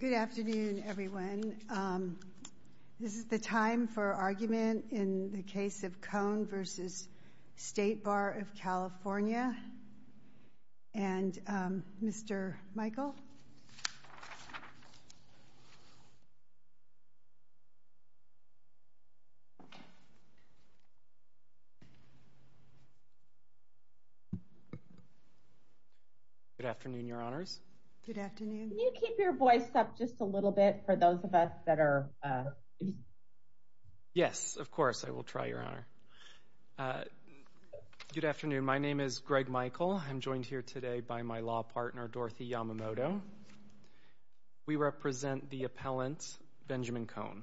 Good afternoon everyone. This is the time for argument in the case of Kohn v. State Bar of California and Mr. Michael. Good afternoon, Your Honors. Good afternoon. Can you keep your voice up just a little bit for those of us that are... Yes, of course. I will try, Your Honor. Good afternoon. My name is Greg Michael. I'm joined here today by my law partner, Dorothy Yamamoto. We represent the appellant, Benjamin Kohn.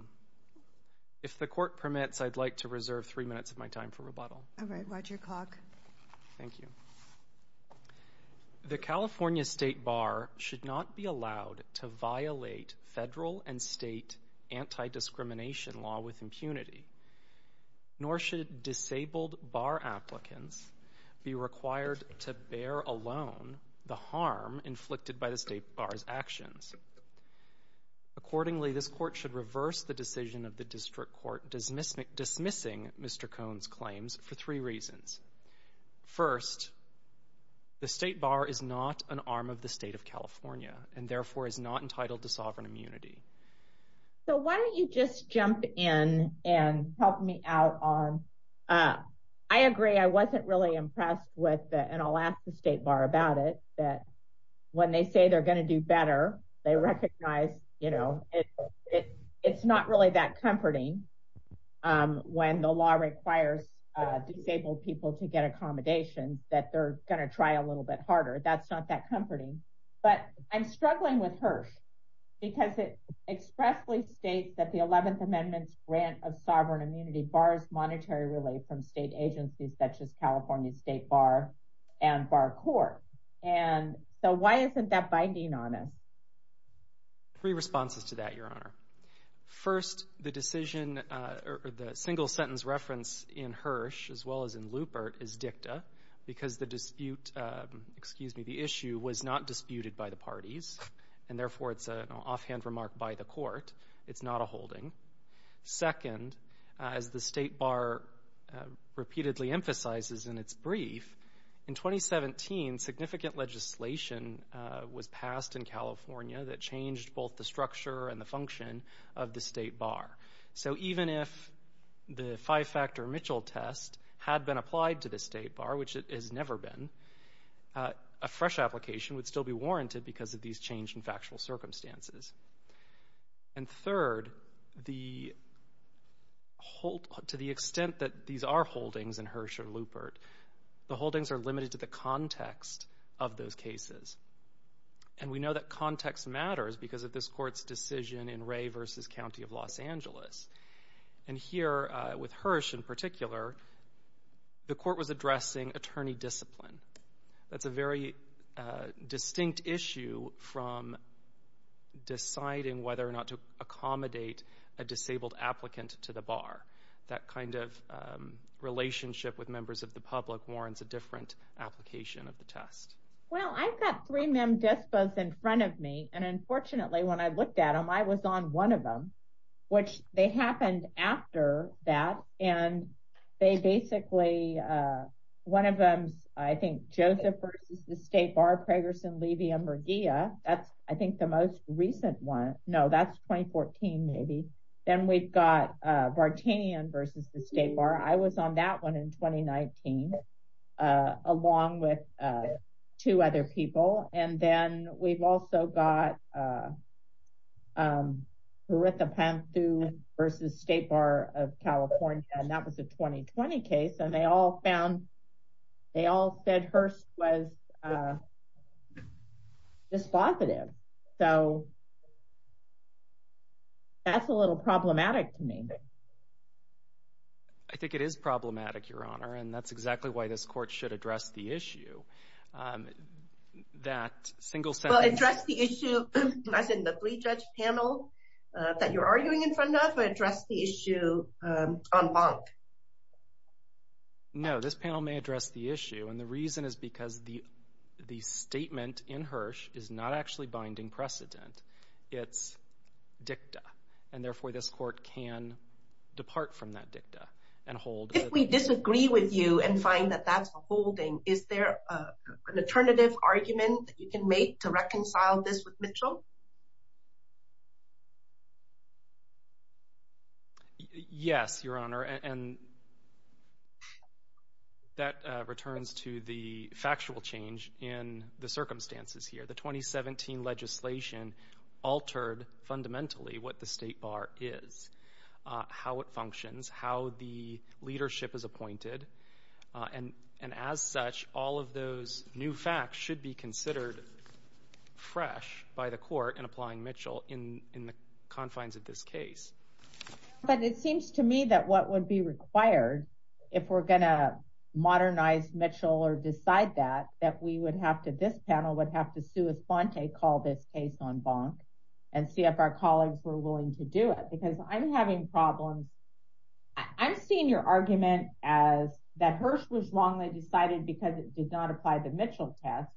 If the court permits, I'd like to reserve three minutes of my time for rebuttal. All right. Roger Kock. Thank you. The California State Bar should not be allowed to violate federal and state anti-discrimination law with impunity, nor should disabled bar applicants be required to bear alone the harm inflicted by the State Bar's actions. Accordingly, this court should reverse the decision of the district court dismissing Mr. Kohn's claims for three reasons. First, the State Bar is not an arm of the state of California and, therefore, is not entitled to sovereign immunity. So why don't you just jump in and help me out on... I agree. I wasn't really impressed with it, and I'll ask the State Bar about it, that when they say they're going to do better, they recognize, you know, it's not really that comforting when the law requires disabled people to get accommodations, that they're going to try a little bit harder. That's not that comforting. But I'm struggling with HERSH because it expressly states that the 11th Amendment's grant of sovereign immunity borrows monetary relief from state agencies such as California State Bar and Bar Court. And so why isn't that binding on us? Three responses to that, Your Honor. First, the single-sentence reference in HERSH, as well as in Lupert, is dicta because the dispute, excuse me, the issue was not disputed by the parties, and, therefore, it's an offhand remark by the court. It's not a holding. Second, as the State Bar repeatedly emphasizes in its brief, in 2017, significant legislation was passed in California that changed both the structure and the function of the State Bar. So even if the five-factor Mitchell test had been applied to the State Bar, which it has never been, a fresh application would still be warranted because of these change in factual circumstances. And third, to the extent that these are holdings in HERSH or Lupert, the holdings are limited to the context of those cases. And we know that context matters because of this court's decision in Ray v. County of Los Angeles. And here, with HERSH in particular, the court was addressing attorney discipline. That's a very distinct issue from deciding whether or not to accommodate a disabled applicant to the Bar. That kind of relationship with members of the public warrants a different application of the test. Well, I've got three mem dispos in front of me, and, unfortunately, when I looked at them, I was on one of them, which they happened after that. And they basically, one of them's, I think, Joseph v. The State Bar, Pragerson, Levy, and Murguia. That's, I think, the most recent one. No, that's 2014, maybe. Then we've got Vartanian v. The State Bar. I was on that one in 2019, along with two other people. And then we've also got Harithapantu v. State Bar of California, and that was a 2020 case. And they all found, they all said HERSH was dispositive. So that's a little problematic to me. I think it is problematic, Your Honor, and that's exactly why this court should address the issue. Well, address the issue, not in the three-judge panel that you're arguing in front of, but address the issue en banc. No, this panel may address the issue, and the reason is because the statement in HERSH is not actually binding precedent. It's dicta, and, therefore, this court can depart from that dicta and hold. If we disagree with you and find that that's a holding, is there an alternative argument that you can make to reconcile this with Mitchell? Yes, Your Honor, and that returns to the factual change in the circumstances here. The 2017 legislation altered, fundamentally, what the State Bar is, how it functions, how the leadership is appointed. And, as such, all of those new facts should be considered fresh by the court in applying Mitchell in the confines of this case. But it seems to me that what would be required, if we're going to modernize Mitchell or decide that, that we would have to, this panel would have to, sua sponte, call this case en banc and see if our colleagues were willing to do it. Because I'm having problems. I'm seeing your argument as that HERSH was wrongly decided because it did not apply the Mitchell test,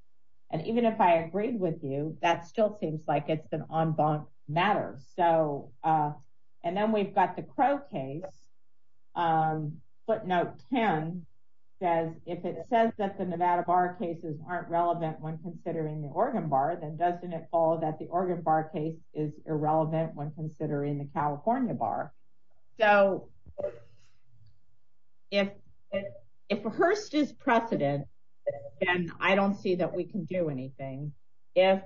and even if I agreed with you, that still seems like it's an en banc matter. And then we've got the Crow case. Footnote 10 says, if it says that the Nevada Bar cases aren't relevant when considering the Oregon Bar, then doesn't it follow that the Oregon Bar case is irrelevant when considering the California Bar? So, if HERSH is precedent, then I don't see that we can do anything. If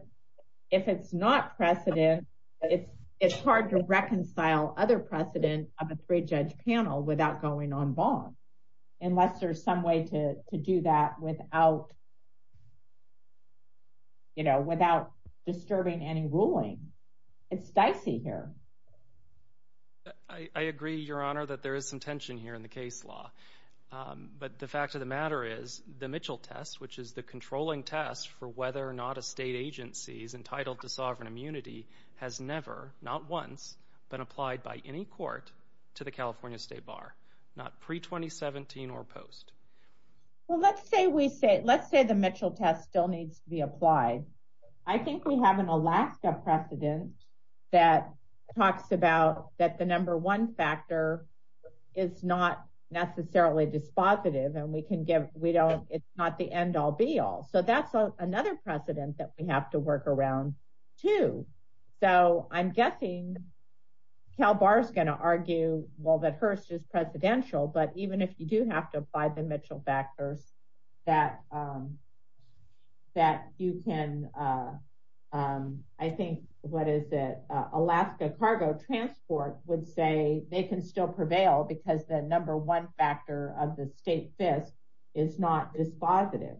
it's not precedent, it's hard to reconcile other precedent of a three-judge panel without going en banc, unless there's some way to do that without, you know, without disturbing any ruling. It's dicey here. I agree, Your Honor, that there is some tension here in the case law. But the fact of the matter is, the Mitchell test, which is the controlling test for whether or not a state agency is entitled to sovereign immunity, has never, not once, been applied by any court to the California State Bar, not pre-2017 or post. Well, let's say the Mitchell test still needs to be applied. I think we have an Alaska precedent that talks about that the number one factor is not necessarily dispositive, and we can give, we don't, it's not the end-all, be-all. So, that's another precedent that we have to work around, too. So, I'm guessing CalBAR's going to argue, well, that HERSH is presidential, but even if you do have to apply the Mitchell factors, that you can, I think, what is it, Alaska Cargo Transport would say they can still prevail because the number one factor of the state FISC is not dispositive.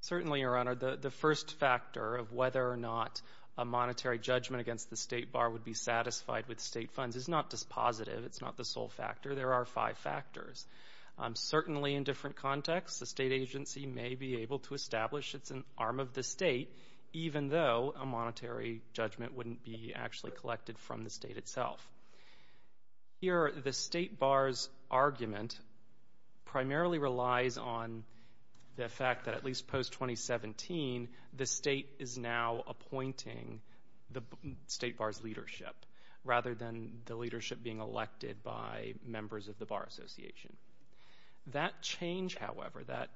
Certainly, Your Honor. The first factor of whether or not a monetary judgment against the state bar would be satisfied with state funds is not dispositive. It's not the sole factor. There are five factors. Certainly, in different contexts, the state agency may be able to establish it's an arm of the state, even though a monetary judgment wouldn't be actually collected from the state itself. Here, the state bar's argument primarily relies on the fact that at least post-2017, the state is now appointing the state bar's leadership, rather than the leadership being elected by members of the bar association. That change, however, that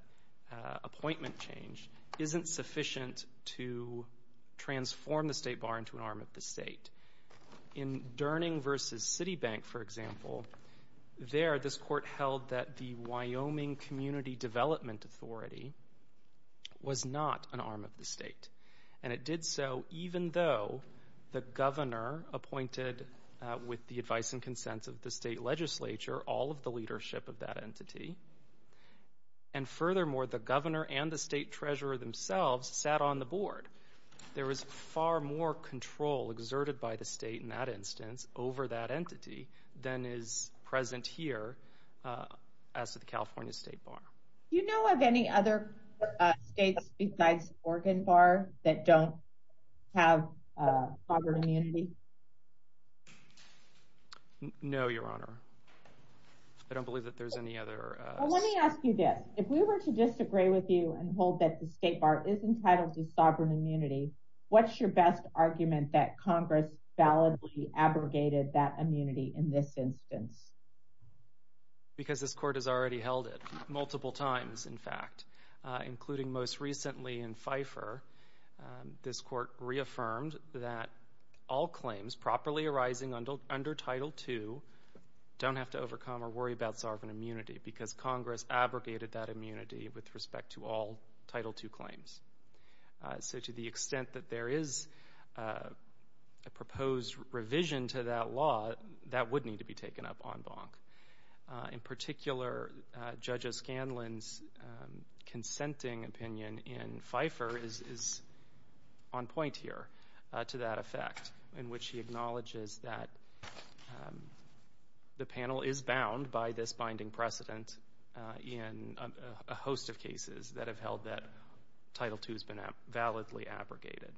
appointment change, isn't sufficient to transform the state bar into an arm of the state. In Durning versus Citibank, for example, there, this court held that the Wyoming Community Development Authority was not an arm of the state, and it did so even though the governor appointed, with the advice and consent of the state legislature, all of the leadership of that entity. And furthermore, the governor and the state treasurer themselves sat on the board. There was far more control exerted by the state, in that instance, over that entity, than is present here as to the California state bar. Do you know of any other states besides Oregon Bar that don't have sovereign immunity? No, Your Honor. I don't believe that there's any other... Let me ask you this. If we were to disagree with you and hold that the state bar is entitled to sovereign immunity, what's your best argument that Congress validly abrogated that immunity in this instance? Because this court has already held it multiple times, in fact. Including most recently in FIFER, this court reaffirmed that all claims properly arising under Title II don't have to overcome or worry about sovereign immunity, because Congress abrogated that immunity with respect to all Title II claims. So to the extent that there is a proposed revision to that law, that would need to be taken up en banc. In particular, Judge O'Scanlan's consenting opinion in FIFER is on point here to that effect, in which he acknowledges that the panel is bound by this binding precedent in a host of cases that have held that Title II has been validly abrogated.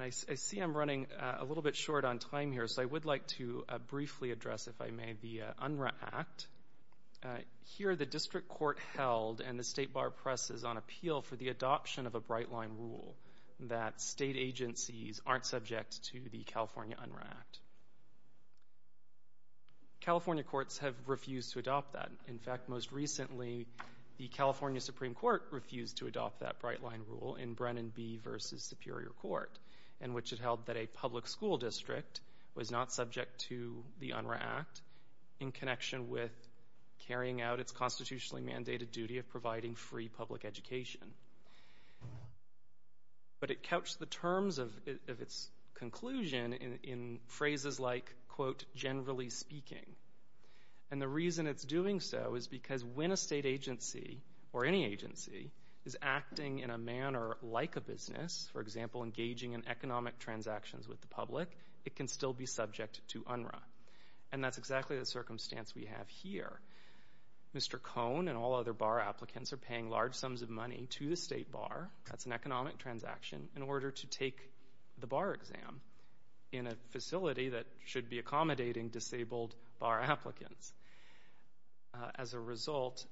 I see I'm running a little bit short on time here, so I would like to briefly address, if I may, the UNRRA Act. Here, the district court held and the state bar presses on appeal for the adoption of a Bright Line Rule that state agencies aren't subject to the California UNRRA Act. California courts have refused to adopt that. In fact, most recently, the California Supreme Court refused to adopt that Bright Line Rule in Brennan v. Superior Court, in which it held that a public school district was not subject to the UNRRA Act in connection with carrying out its constitutionally mandated duty of providing free public education. But it couched the terms of its conclusion in phrases like, quote, generally speaking. And the reason it's doing so is because when a state agency, or any agency, is acting in a manner like a business, for example, engaging in economic transactions with the public, it can still be subject to UNRRA. And that's exactly the circumstance we have here. Mr. Cone and all other bar applicants are paying large sums of money to the state bar, that's an economic transaction, in order to take the bar exam in a facility that should be accommodating disabled bar applicants. As a result,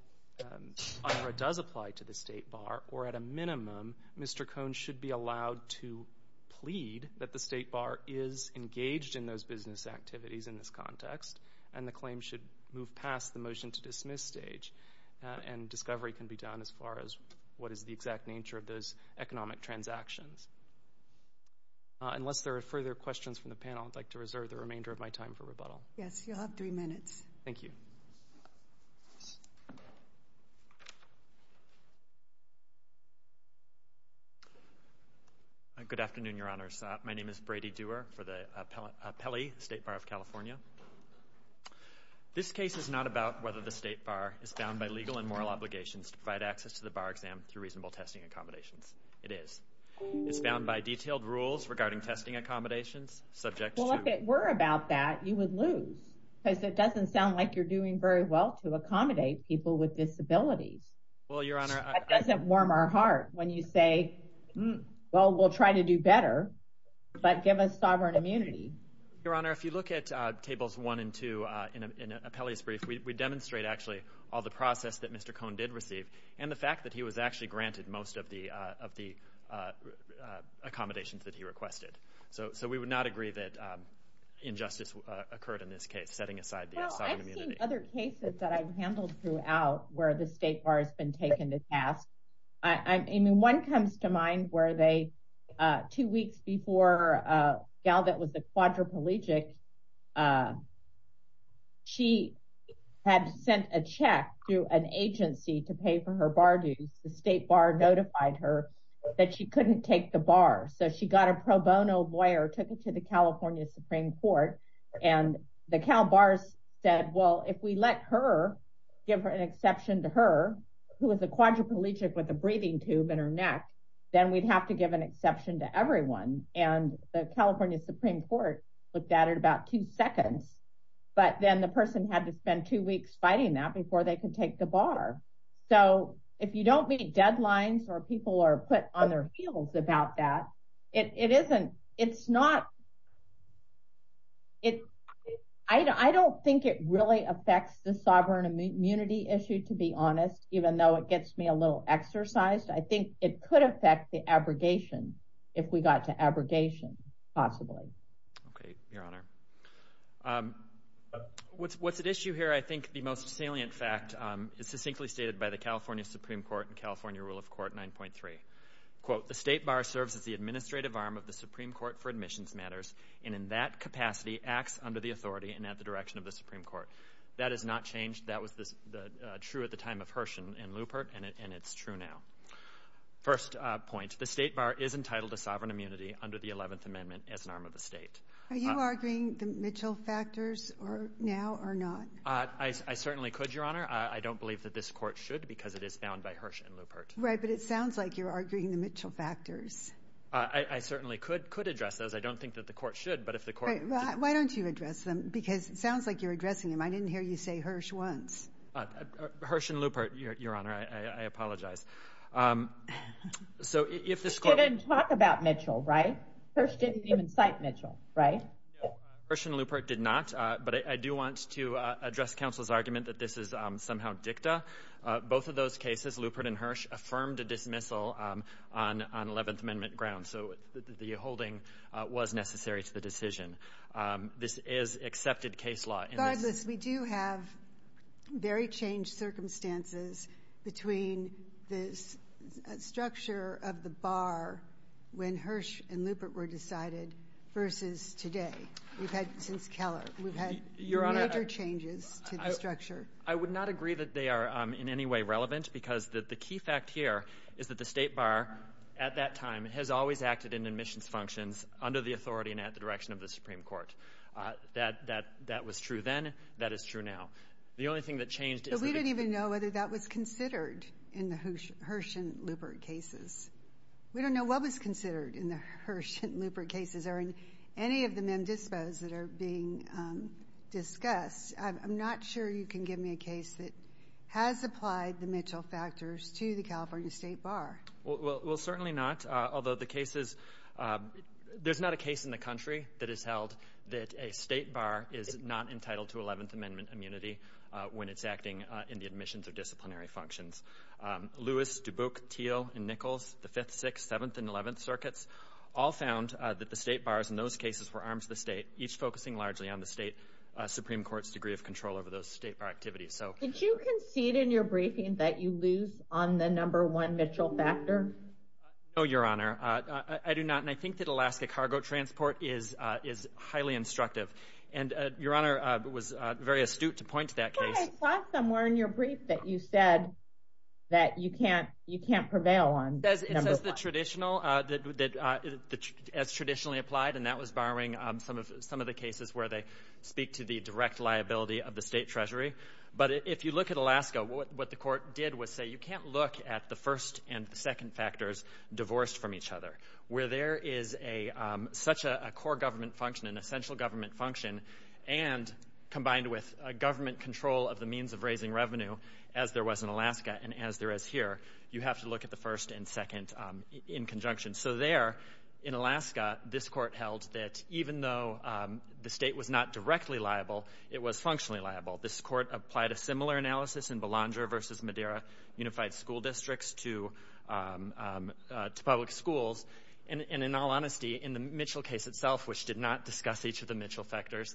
UNRRA does apply to the state bar, or at a minimum, Mr. Cone should be allowed to plead that the state bar is engaged in those business activities in this context, and the claim should move past the motion to dismiss stage. And discovery can be done as far as what is the exact nature of those economic transactions. Unless there are further questions from the panel, I'd like to reserve the remainder of my time for rebuttal. Yes, you'll have three minutes. Thank you. Good afternoon, Your Honors. My name is Brady Dewar for the Pelley State Bar of California. This case is not about whether the state bar is bound by legal and moral obligations to provide access to the bar exam through reasonable testing accommodations. It is. It's bound by detailed rules regarding testing accommodations subject to... Well, if it were about that, you would lose. Because it doesn't sound like you're doing very well to accommodate people with disabilities. Well, Your Honor, I... But give us sovereign immunity. Your Honor, if you look at tables one and two in Pelley's brief, we demonstrate actually all the process that Mr. Cone did receive, and the fact that he was actually granted most of the accommodations that he requested. So we would not agree that injustice occurred in this case, setting aside the sovereign immunity. Well, I've seen other cases that I've handled throughout where the state bar has been taken to task. I mean, one comes to mind where they... Two weeks before Galvet was a quadriplegic, she had sent a check to an agency to pay for her bar dues. The state bar notified her that she couldn't take the bar. So she got a pro bono lawyer, took it to the California Supreme Court, and the Cal bars said, well, if we let her give an exception to her, who is a quadriplegic with a breathing tube in her neck, then we'd have to give an exception to everyone. And the California Supreme Court looked at it about two seconds, but then the person had to spend two weeks fighting that before they could take the bar. So if you don't meet deadlines or people are put on their heels about that, it isn't... I don't think it really affects the sovereign immunity issue, to be honest, even though it gets me a little exercised. I think it could affect the abrogation if we got to abrogation, possibly. Okay, Your Honor. What's at issue here, I think the most salient fact, is succinctly stated by the California Supreme Court in California Rule of Court 9.3. Quote, the state bar serves as the administrative arm of the Supreme Court for admissions matters and in that capacity acts under the authority and at the direction of the Supreme Court. That has not changed. That was true at the time of Hirsch and Lupert, and it's true now. First point, the state bar is entitled to sovereign immunity under the 11th Amendment as an arm of the state. Are you arguing the Mitchell factors now or not? I certainly could, Your Honor. I don't believe that this court should because it is bound by Hirsch and Lupert. Right, but it sounds like you're arguing the Mitchell factors. I certainly could address those. I don't think that the court should. Why don't you address them because it sounds like you're addressing them. I didn't hear you say Hirsch once. Hirsch and Lupert, Your Honor, I apologize. You didn't talk about Mitchell, right? Hirsch didn't even cite Mitchell, right? Hirsch and Lupert did not, but I do want to address counsel's argument that this is somehow dicta. Both of those cases, Lupert and Hirsch, affirmed a dismissal on 11th Amendment grounds, so the holding was necessary to the decision. This is accepted case law. Regardless, we do have very changed circumstances between this structure of the bar when Hirsch and Lupert were decided versus today. We've had since Keller. We've had major changes to the structure. I would not agree that they are in any way relevant because the key fact here is that the State Bar, at that time, has always acted in admissions functions under the authority and at the direction of the Supreme Court. That was true then. That is true now. The only thing that changed is that the- But we don't even know whether that was considered in the Hirsch and Lupert cases. We don't know what was considered in the Hirsch and Lupert cases or in any of the mem dispos that are being discussed. I'm not sure you can give me a case that has applied the Mitchell factors to the California State Bar. Well, certainly not, although the cases- there's not a case in the country that has held that a State Bar is not entitled to 11th Amendment immunity when it's acting in the admissions or disciplinary functions. Lewis, Dubuque, Thiel, and Nichols, the 5th, 6th, 7th, and 11th circuits, all found that the State Bars in those cases were arms of the state, each focusing largely on the state Supreme Court's degree of control over those State Bar activities. Did you concede in your briefing that you lose on the number one Mitchell factor? No, Your Honor. I do not, and I think that Alaska cargo transport is highly instructive. And Your Honor was very astute to point to that case. But I saw somewhere in your brief that you said that you can't prevail on number one. It says the traditional, as traditionally applied, and that was borrowing some of the cases where they speak to the direct liability of the state treasury. But if you look at Alaska, what the court did was say you can't look at the first and the second factors divorced from each other. Where there is such a core government function, an essential government function, and combined with a government control of the means of raising revenue, as there was in Alaska and as there is here, you have to look at the first and second in conjunction. So there, in Alaska, this court held that even though the state was not directly liable, it was functionally liable. This court applied a similar analysis in Belanger v. Madeira Unified School Districts to public schools. And in all honesty, in the Mitchell case itself, which did not discuss each of the Mitchell factors,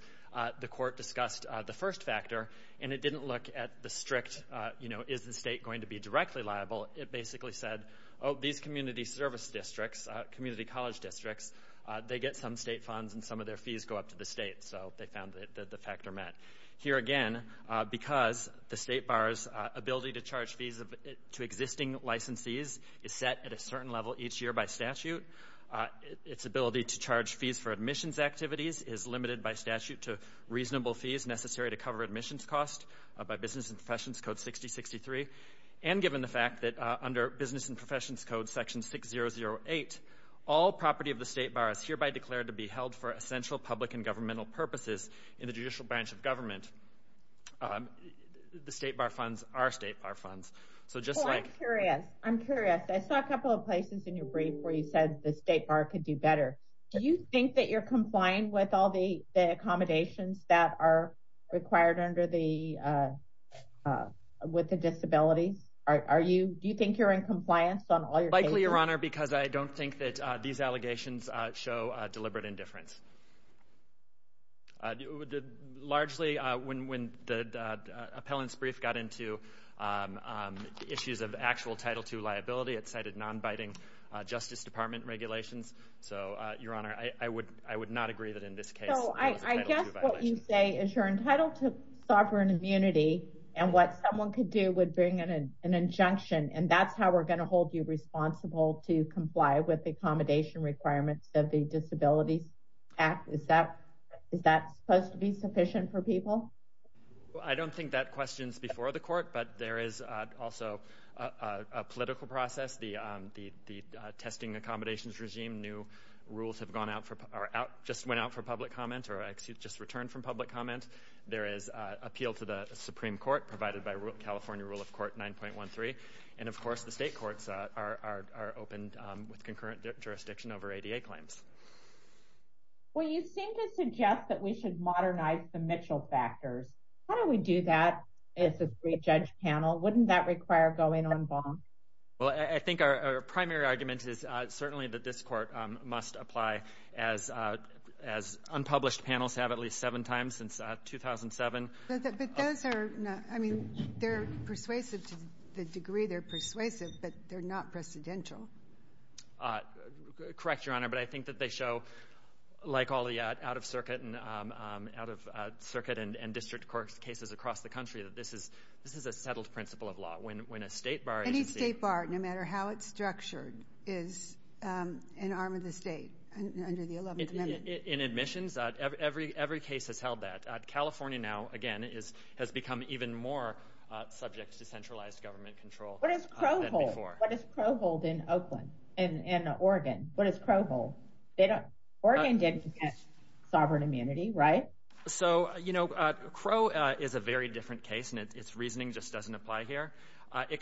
the court discussed the first factor, and it didn't look at the strict, you know, is the state going to be directly liable? It basically said, oh, these community service districts, community college districts, they get some state funds and some of their fees go up to the state. So they found that the factor met. Here again, because the state bar's ability to charge fees to existing licensees is set at a certain level each year by statute, its ability to charge fees for admissions activities is limited by statute to reasonable fees necessary to cover admissions costs by Business and Professions Code 6063. And given the fact that under Business and Professions Code Section 6008, all property of the state bar is hereby declared to be held for essential public and governmental purposes in the judicial branch of government, the state bar funds are state bar funds. Well, I'm curious. I'm curious. I saw a couple of places in your brief where you said the state bar could do better. Do you think that you're complying with all the accommodations that are required with the disabilities? Do you think you're in compliance on all your cases? Likely, Your Honor, because I don't think that these allegations show deliberate indifference. Largely, when the appellant's brief got into issues of actual Title II liability, it cited non-binding Justice Department regulations. So, Your Honor, I would not agree that in this case there was a Title II violation. So I guess what you say is you're entitled to sovereign immunity, and what someone could do would bring an injunction, and that's how we're going to hold you responsible to comply with the accommodation requirements of the Disabilities Act. Is that supposed to be sufficient for people? I don't think that questions before the court, but there is also a political process. The testing accommodations regime, new rules have gone out for, or just went out for public comment, or excuse me, just returned from public comment. There is appeal to the Supreme Court provided by California Rule of Court 9.13, and, of course, the state courts are open with concurrent jurisdiction over ADA claims. Well, you seem to suggest that we should modernize the Mitchell factors. How do we do that as a three-judge panel? Wouldn't that require going on bond? Well, I think our primary argument is certainly that this court must apply, as unpublished panels have at least seven times since 2007. But those are, I mean, they're persuasive to the degree they're persuasive, but they're not precedential. Correct, Your Honor, but I think that they show, like all the out-of-circuit and district court cases across the country, that this is a settled principle of law. Any state bar, no matter how it's structured, is an arm of the state under the 11th Amendment. In admissions, every case has held that. California now, again, has become even more subject to centralized government control. What does Crow hold? What does Crow hold in Oakland, in Oregon? What does Crow hold? Oregon didn't get sovereign immunity, right? So, you know, Crow is a very different case, and its reasoning just doesn't apply here. Well, I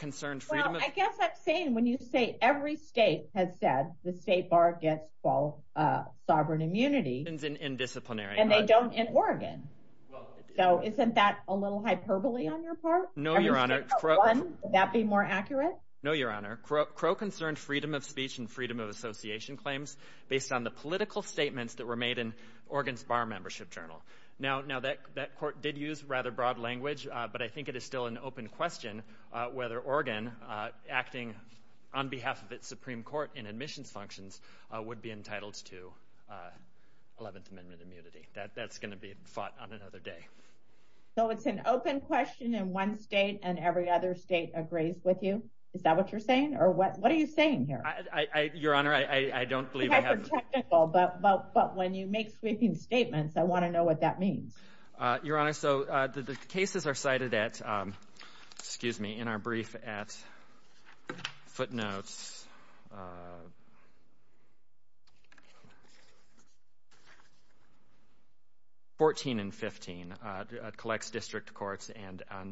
guess I'm saying when you say every state has said the state bar gets sovereign immunity. And they don't in Oregon. So isn't that a little hyperbole on your part? No, Your Honor. Would that be more accurate? No, Your Honor. Crow concerned freedom of speech and freedom of association claims based on the political statements that were made in Oregon's bar membership journal. Now, that court did use rather broad language, but I think it is still an open question whether Oregon, acting on behalf of its Supreme Court in admissions functions, would be entitled to 11th Amendment immunity. That's going to be fought on another day. So it's an open question, and one state and every other state agrees with you? Is that what you're saying? Or what are you saying here? Your Honor, I don't believe I have— It's hyper technical, but when you make sweeping statements, I want to know what that means. Your Honor, so the cases are cited at—excuse me—in our brief at footnotes 14 and 15. It collects district courts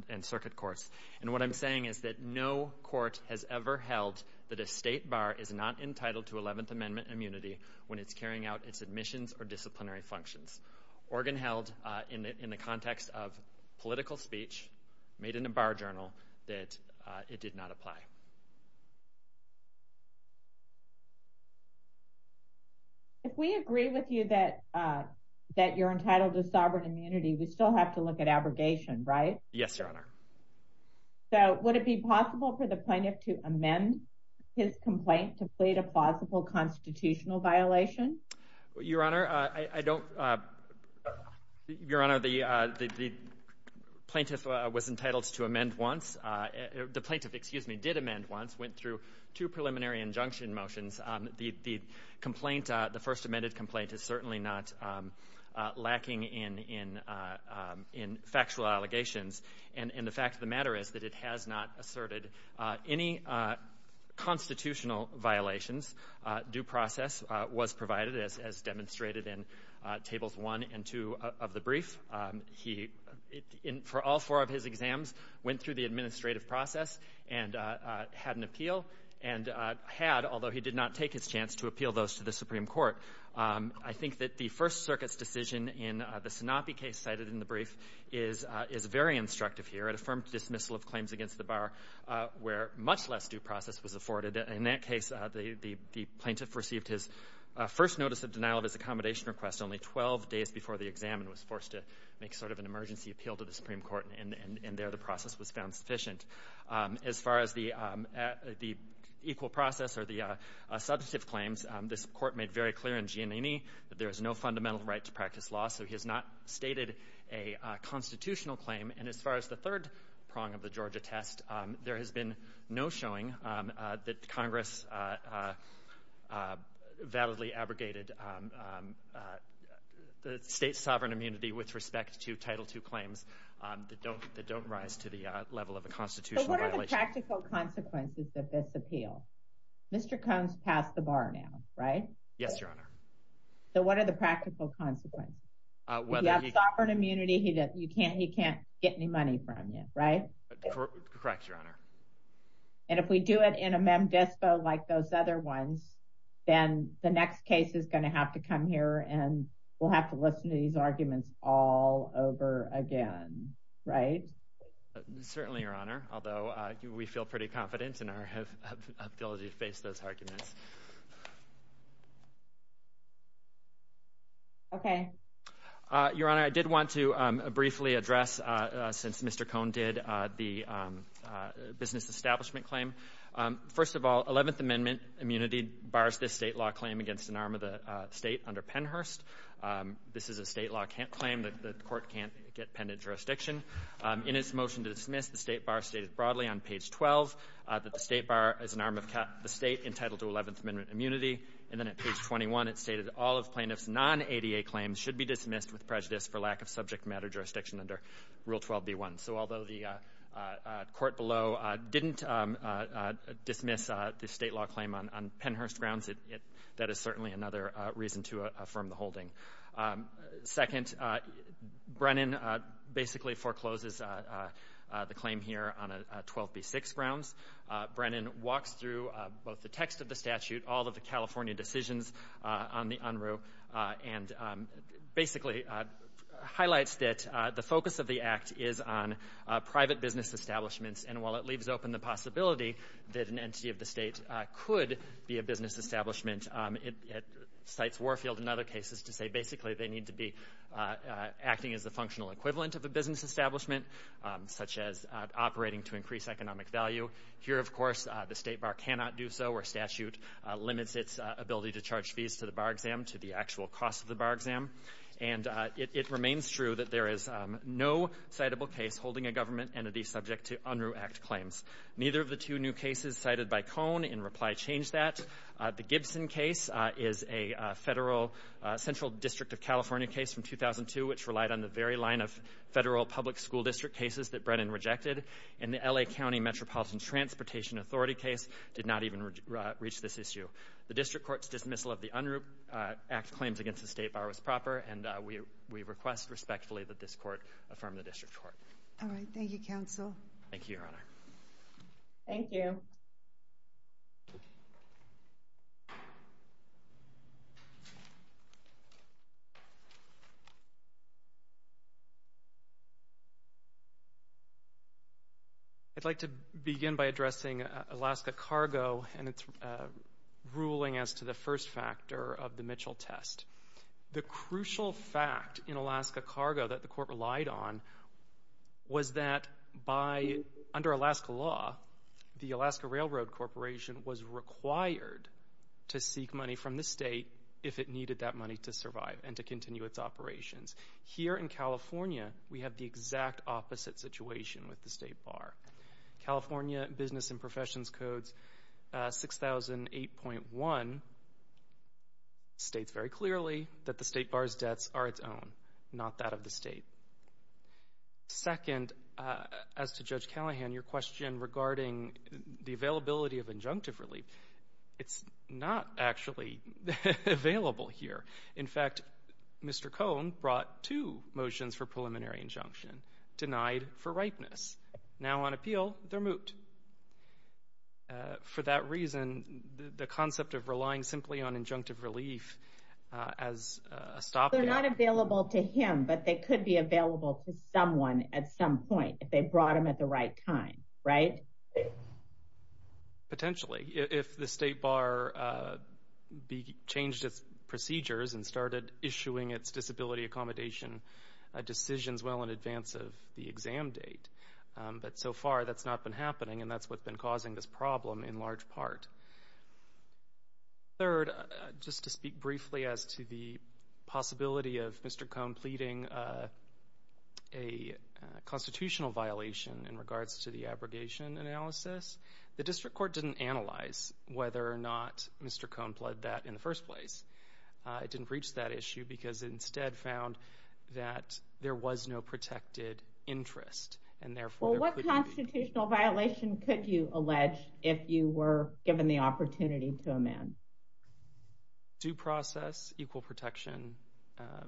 and circuit courts. And what I'm saying is that no court has ever held that a state bar is not entitled to 11th Amendment immunity when it's carrying out its admissions or disciplinary functions. Oregon held in the context of political speech made in a bar journal that it did not apply. If we agree with you that you're entitled to sovereign immunity, we still have to look at abrogation, right? Yes, Your Honor. So would it be possible for the plaintiff to amend his complaint to plead a plausible constitutional violation? Your Honor, I don't—Your Honor, the plaintiff was entitled to amend once. The plaintiff, excuse me, did amend once, went through two preliminary injunction motions. The complaint, the first amended complaint, is certainly not lacking in factual allegations. And the fact of the matter is that it has not asserted any constitutional violations. Due process was provided, as demonstrated in Tables 1 and 2 of the brief. He, for all four of his exams, went through the administrative process and had an appeal and had, although he did not take his chance to appeal those to the Supreme Court. I think that the First Circuit's decision in the Sanopi case cited in the brief is very instructive here. It affirmed dismissal of claims against the bar where much less due process was afforded. In that case, the plaintiff received his first notice of denial of his accommodation request only 12 days before the exam and was forced to make sort of an emergency appeal to the Supreme Court. And there the process was found sufficient. As far as the equal process or the substantive claims, this Court made very clear in Giannini that there is no fundamental right to practice law, so he has not stated a constitutional claim. And as far as the third prong of the Georgia test, there has been no showing that Congress validly abrogated the state's sovereign immunity with respect to Title II claims that don't rise to the level of a constitutional violation. So what are the practical consequences of this appeal? Mr. Combs passed the bar now, right? Yes, Your Honor. So what are the practical consequences? He has sovereign immunity. He can't get any money from you, right? Correct, Your Honor. And if we do it in a mem dispo like those other ones, then the next case is going to have to come here and we'll have to listen to these arguments all over again, right? Certainly, Your Honor, although we feel pretty confident in our ability to face those arguments. Okay. Your Honor, I did want to briefly address, since Mr. Cohn did, the business establishment claim. First of all, Eleventh Amendment immunity bars this state law claim against an arm of the state under Pennhurst. This is a state law claim that the Court can't get penned in jurisdiction. In its motion to dismiss, the State Bar stated broadly on page 12 that the State Bar is an arm of the state entitled to Eleventh Amendment immunity, and then at page 21 it stated all of plaintiffs' non-ADA claims should be dismissed with prejudice for lack of subject matter jurisdiction under Rule 12b-1. So although the court below didn't dismiss the state law claim on Pennhurst grounds, that is certainly another reason to affirm the holding. Second, Brennan basically forecloses the claim here on 12b-6 grounds. Brennan walks through both the text of the statute, all of the California decisions on the UNRU, and basically highlights that the focus of the act is on private business establishments, and while it leaves open the possibility that an entity of the state could be a business establishment, it cites Warfield in other cases to say basically they need to be acting as the functional equivalent of a business establishment, such as operating to increase economic value. Here, of course, the State Bar cannot do so, or statute limits its ability to charge fees to the bar exam to the actual cost of the bar exam. And it remains true that there is no citable case holding a government entity subject to UNRU Act claims. Neither of the two new cases cited by Cone in reply change that. The Gibson case is a federal central district of California case from 2002, which relied on the very line of federal public school district cases that Brennan rejected, and the L.A. County Metropolitan Transportation Authority case did not even reach this issue. The district court's dismissal of the UNRU Act claims against the State Bar was proper, and we request respectfully that this court affirm the district court. All right. Thank you, counsel. Thank you, Your Honor. Thank you. I'd like to begin by addressing Alaska Cargo and its ruling as to the first factor of the Mitchell test. The crucial fact in Alaska Cargo that the court relied on was that under Alaska law, the Alaska Railroad Corporation was required to seek money from the state if it needed that money to survive and to continue its operations. Here in California, we have the exact opposite situation with the State Bar. California Business and Professions Code 6008.1 states very clearly that the State Bar's debts are its own, not that of the state. Second, as to Judge Callahan, your question regarding the availability of injunctive relief, it's not actually available here. In fact, Mr. Cohn brought two motions for preliminary injunction, denied for ripeness. Now on appeal, they're moot. For that reason, the concept of relying simply on injunctive relief as a stopgap. They're not available to him, but they could be available to someone at some point if they brought them at the right time, right? Potentially, if the State Bar changed its procedures and started issuing its disability accommodation decisions well in advance of the exam date. But so far, that's not been happening, and that's what's been causing this problem in large part. Third, just to speak briefly as to the possibility of Mr. Cohn completing a constitutional violation in regards to the abrogation analysis, the district court didn't analyze whether or not Mr. Cohn pled that in the first place. It didn't reach that issue because it instead found that there was no protected interest, and therefore there couldn't be. Well, what constitutional violation could you allege if you were given the opportunity to amend? Due process, equal protection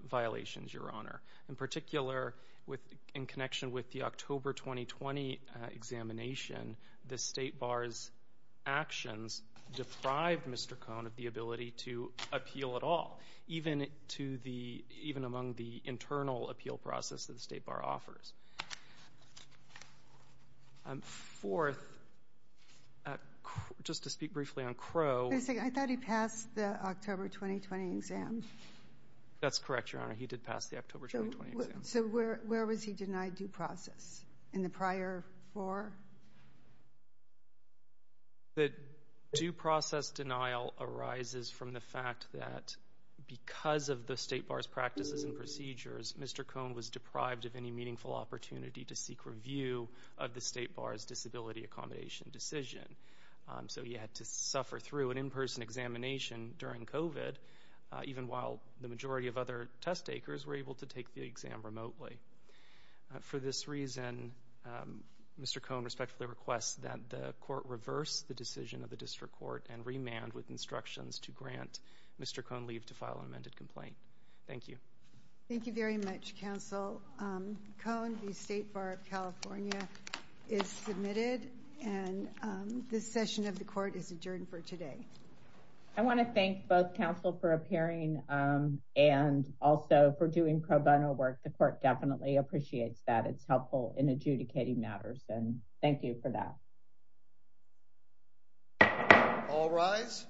violations, Your Honor. In particular, in connection with the October 2020 examination, the State Bar's actions deprived Mr. Cohn of the ability to appeal at all, even among the internal appeal process that the State Bar offers. Fourth, just to speak briefly on Crowe. I thought he passed the October 2020 exam. That's correct, Your Honor. He did pass the October 2020 exam. So where was he denied due process in the prior four? The due process denial arises from the fact that because of the State Bar's practices and procedures, Mr. Cohn was deprived of any meaningful opportunity to seek review of the State Bar's disability accommodation decision. So he had to suffer through an in-person examination during COVID, even while the majority of other test takers were able to take the exam remotely. For this reason, Mr. Cohn respectfully requests that the Court reverse the decision of the District Court and remand with instructions to grant Mr. Cohn leave to file an amended complaint. Thank you. Thank you very much, Counsel. Counsel, Mr. Cohn, the State Bar of California is submitted, and this session of the Court is adjourned for today. I want to thank both counsel for appearing and also for doing pro bono work. The Court definitely appreciates that. It's helpful in adjudicating matters, and thank you for that. All rise.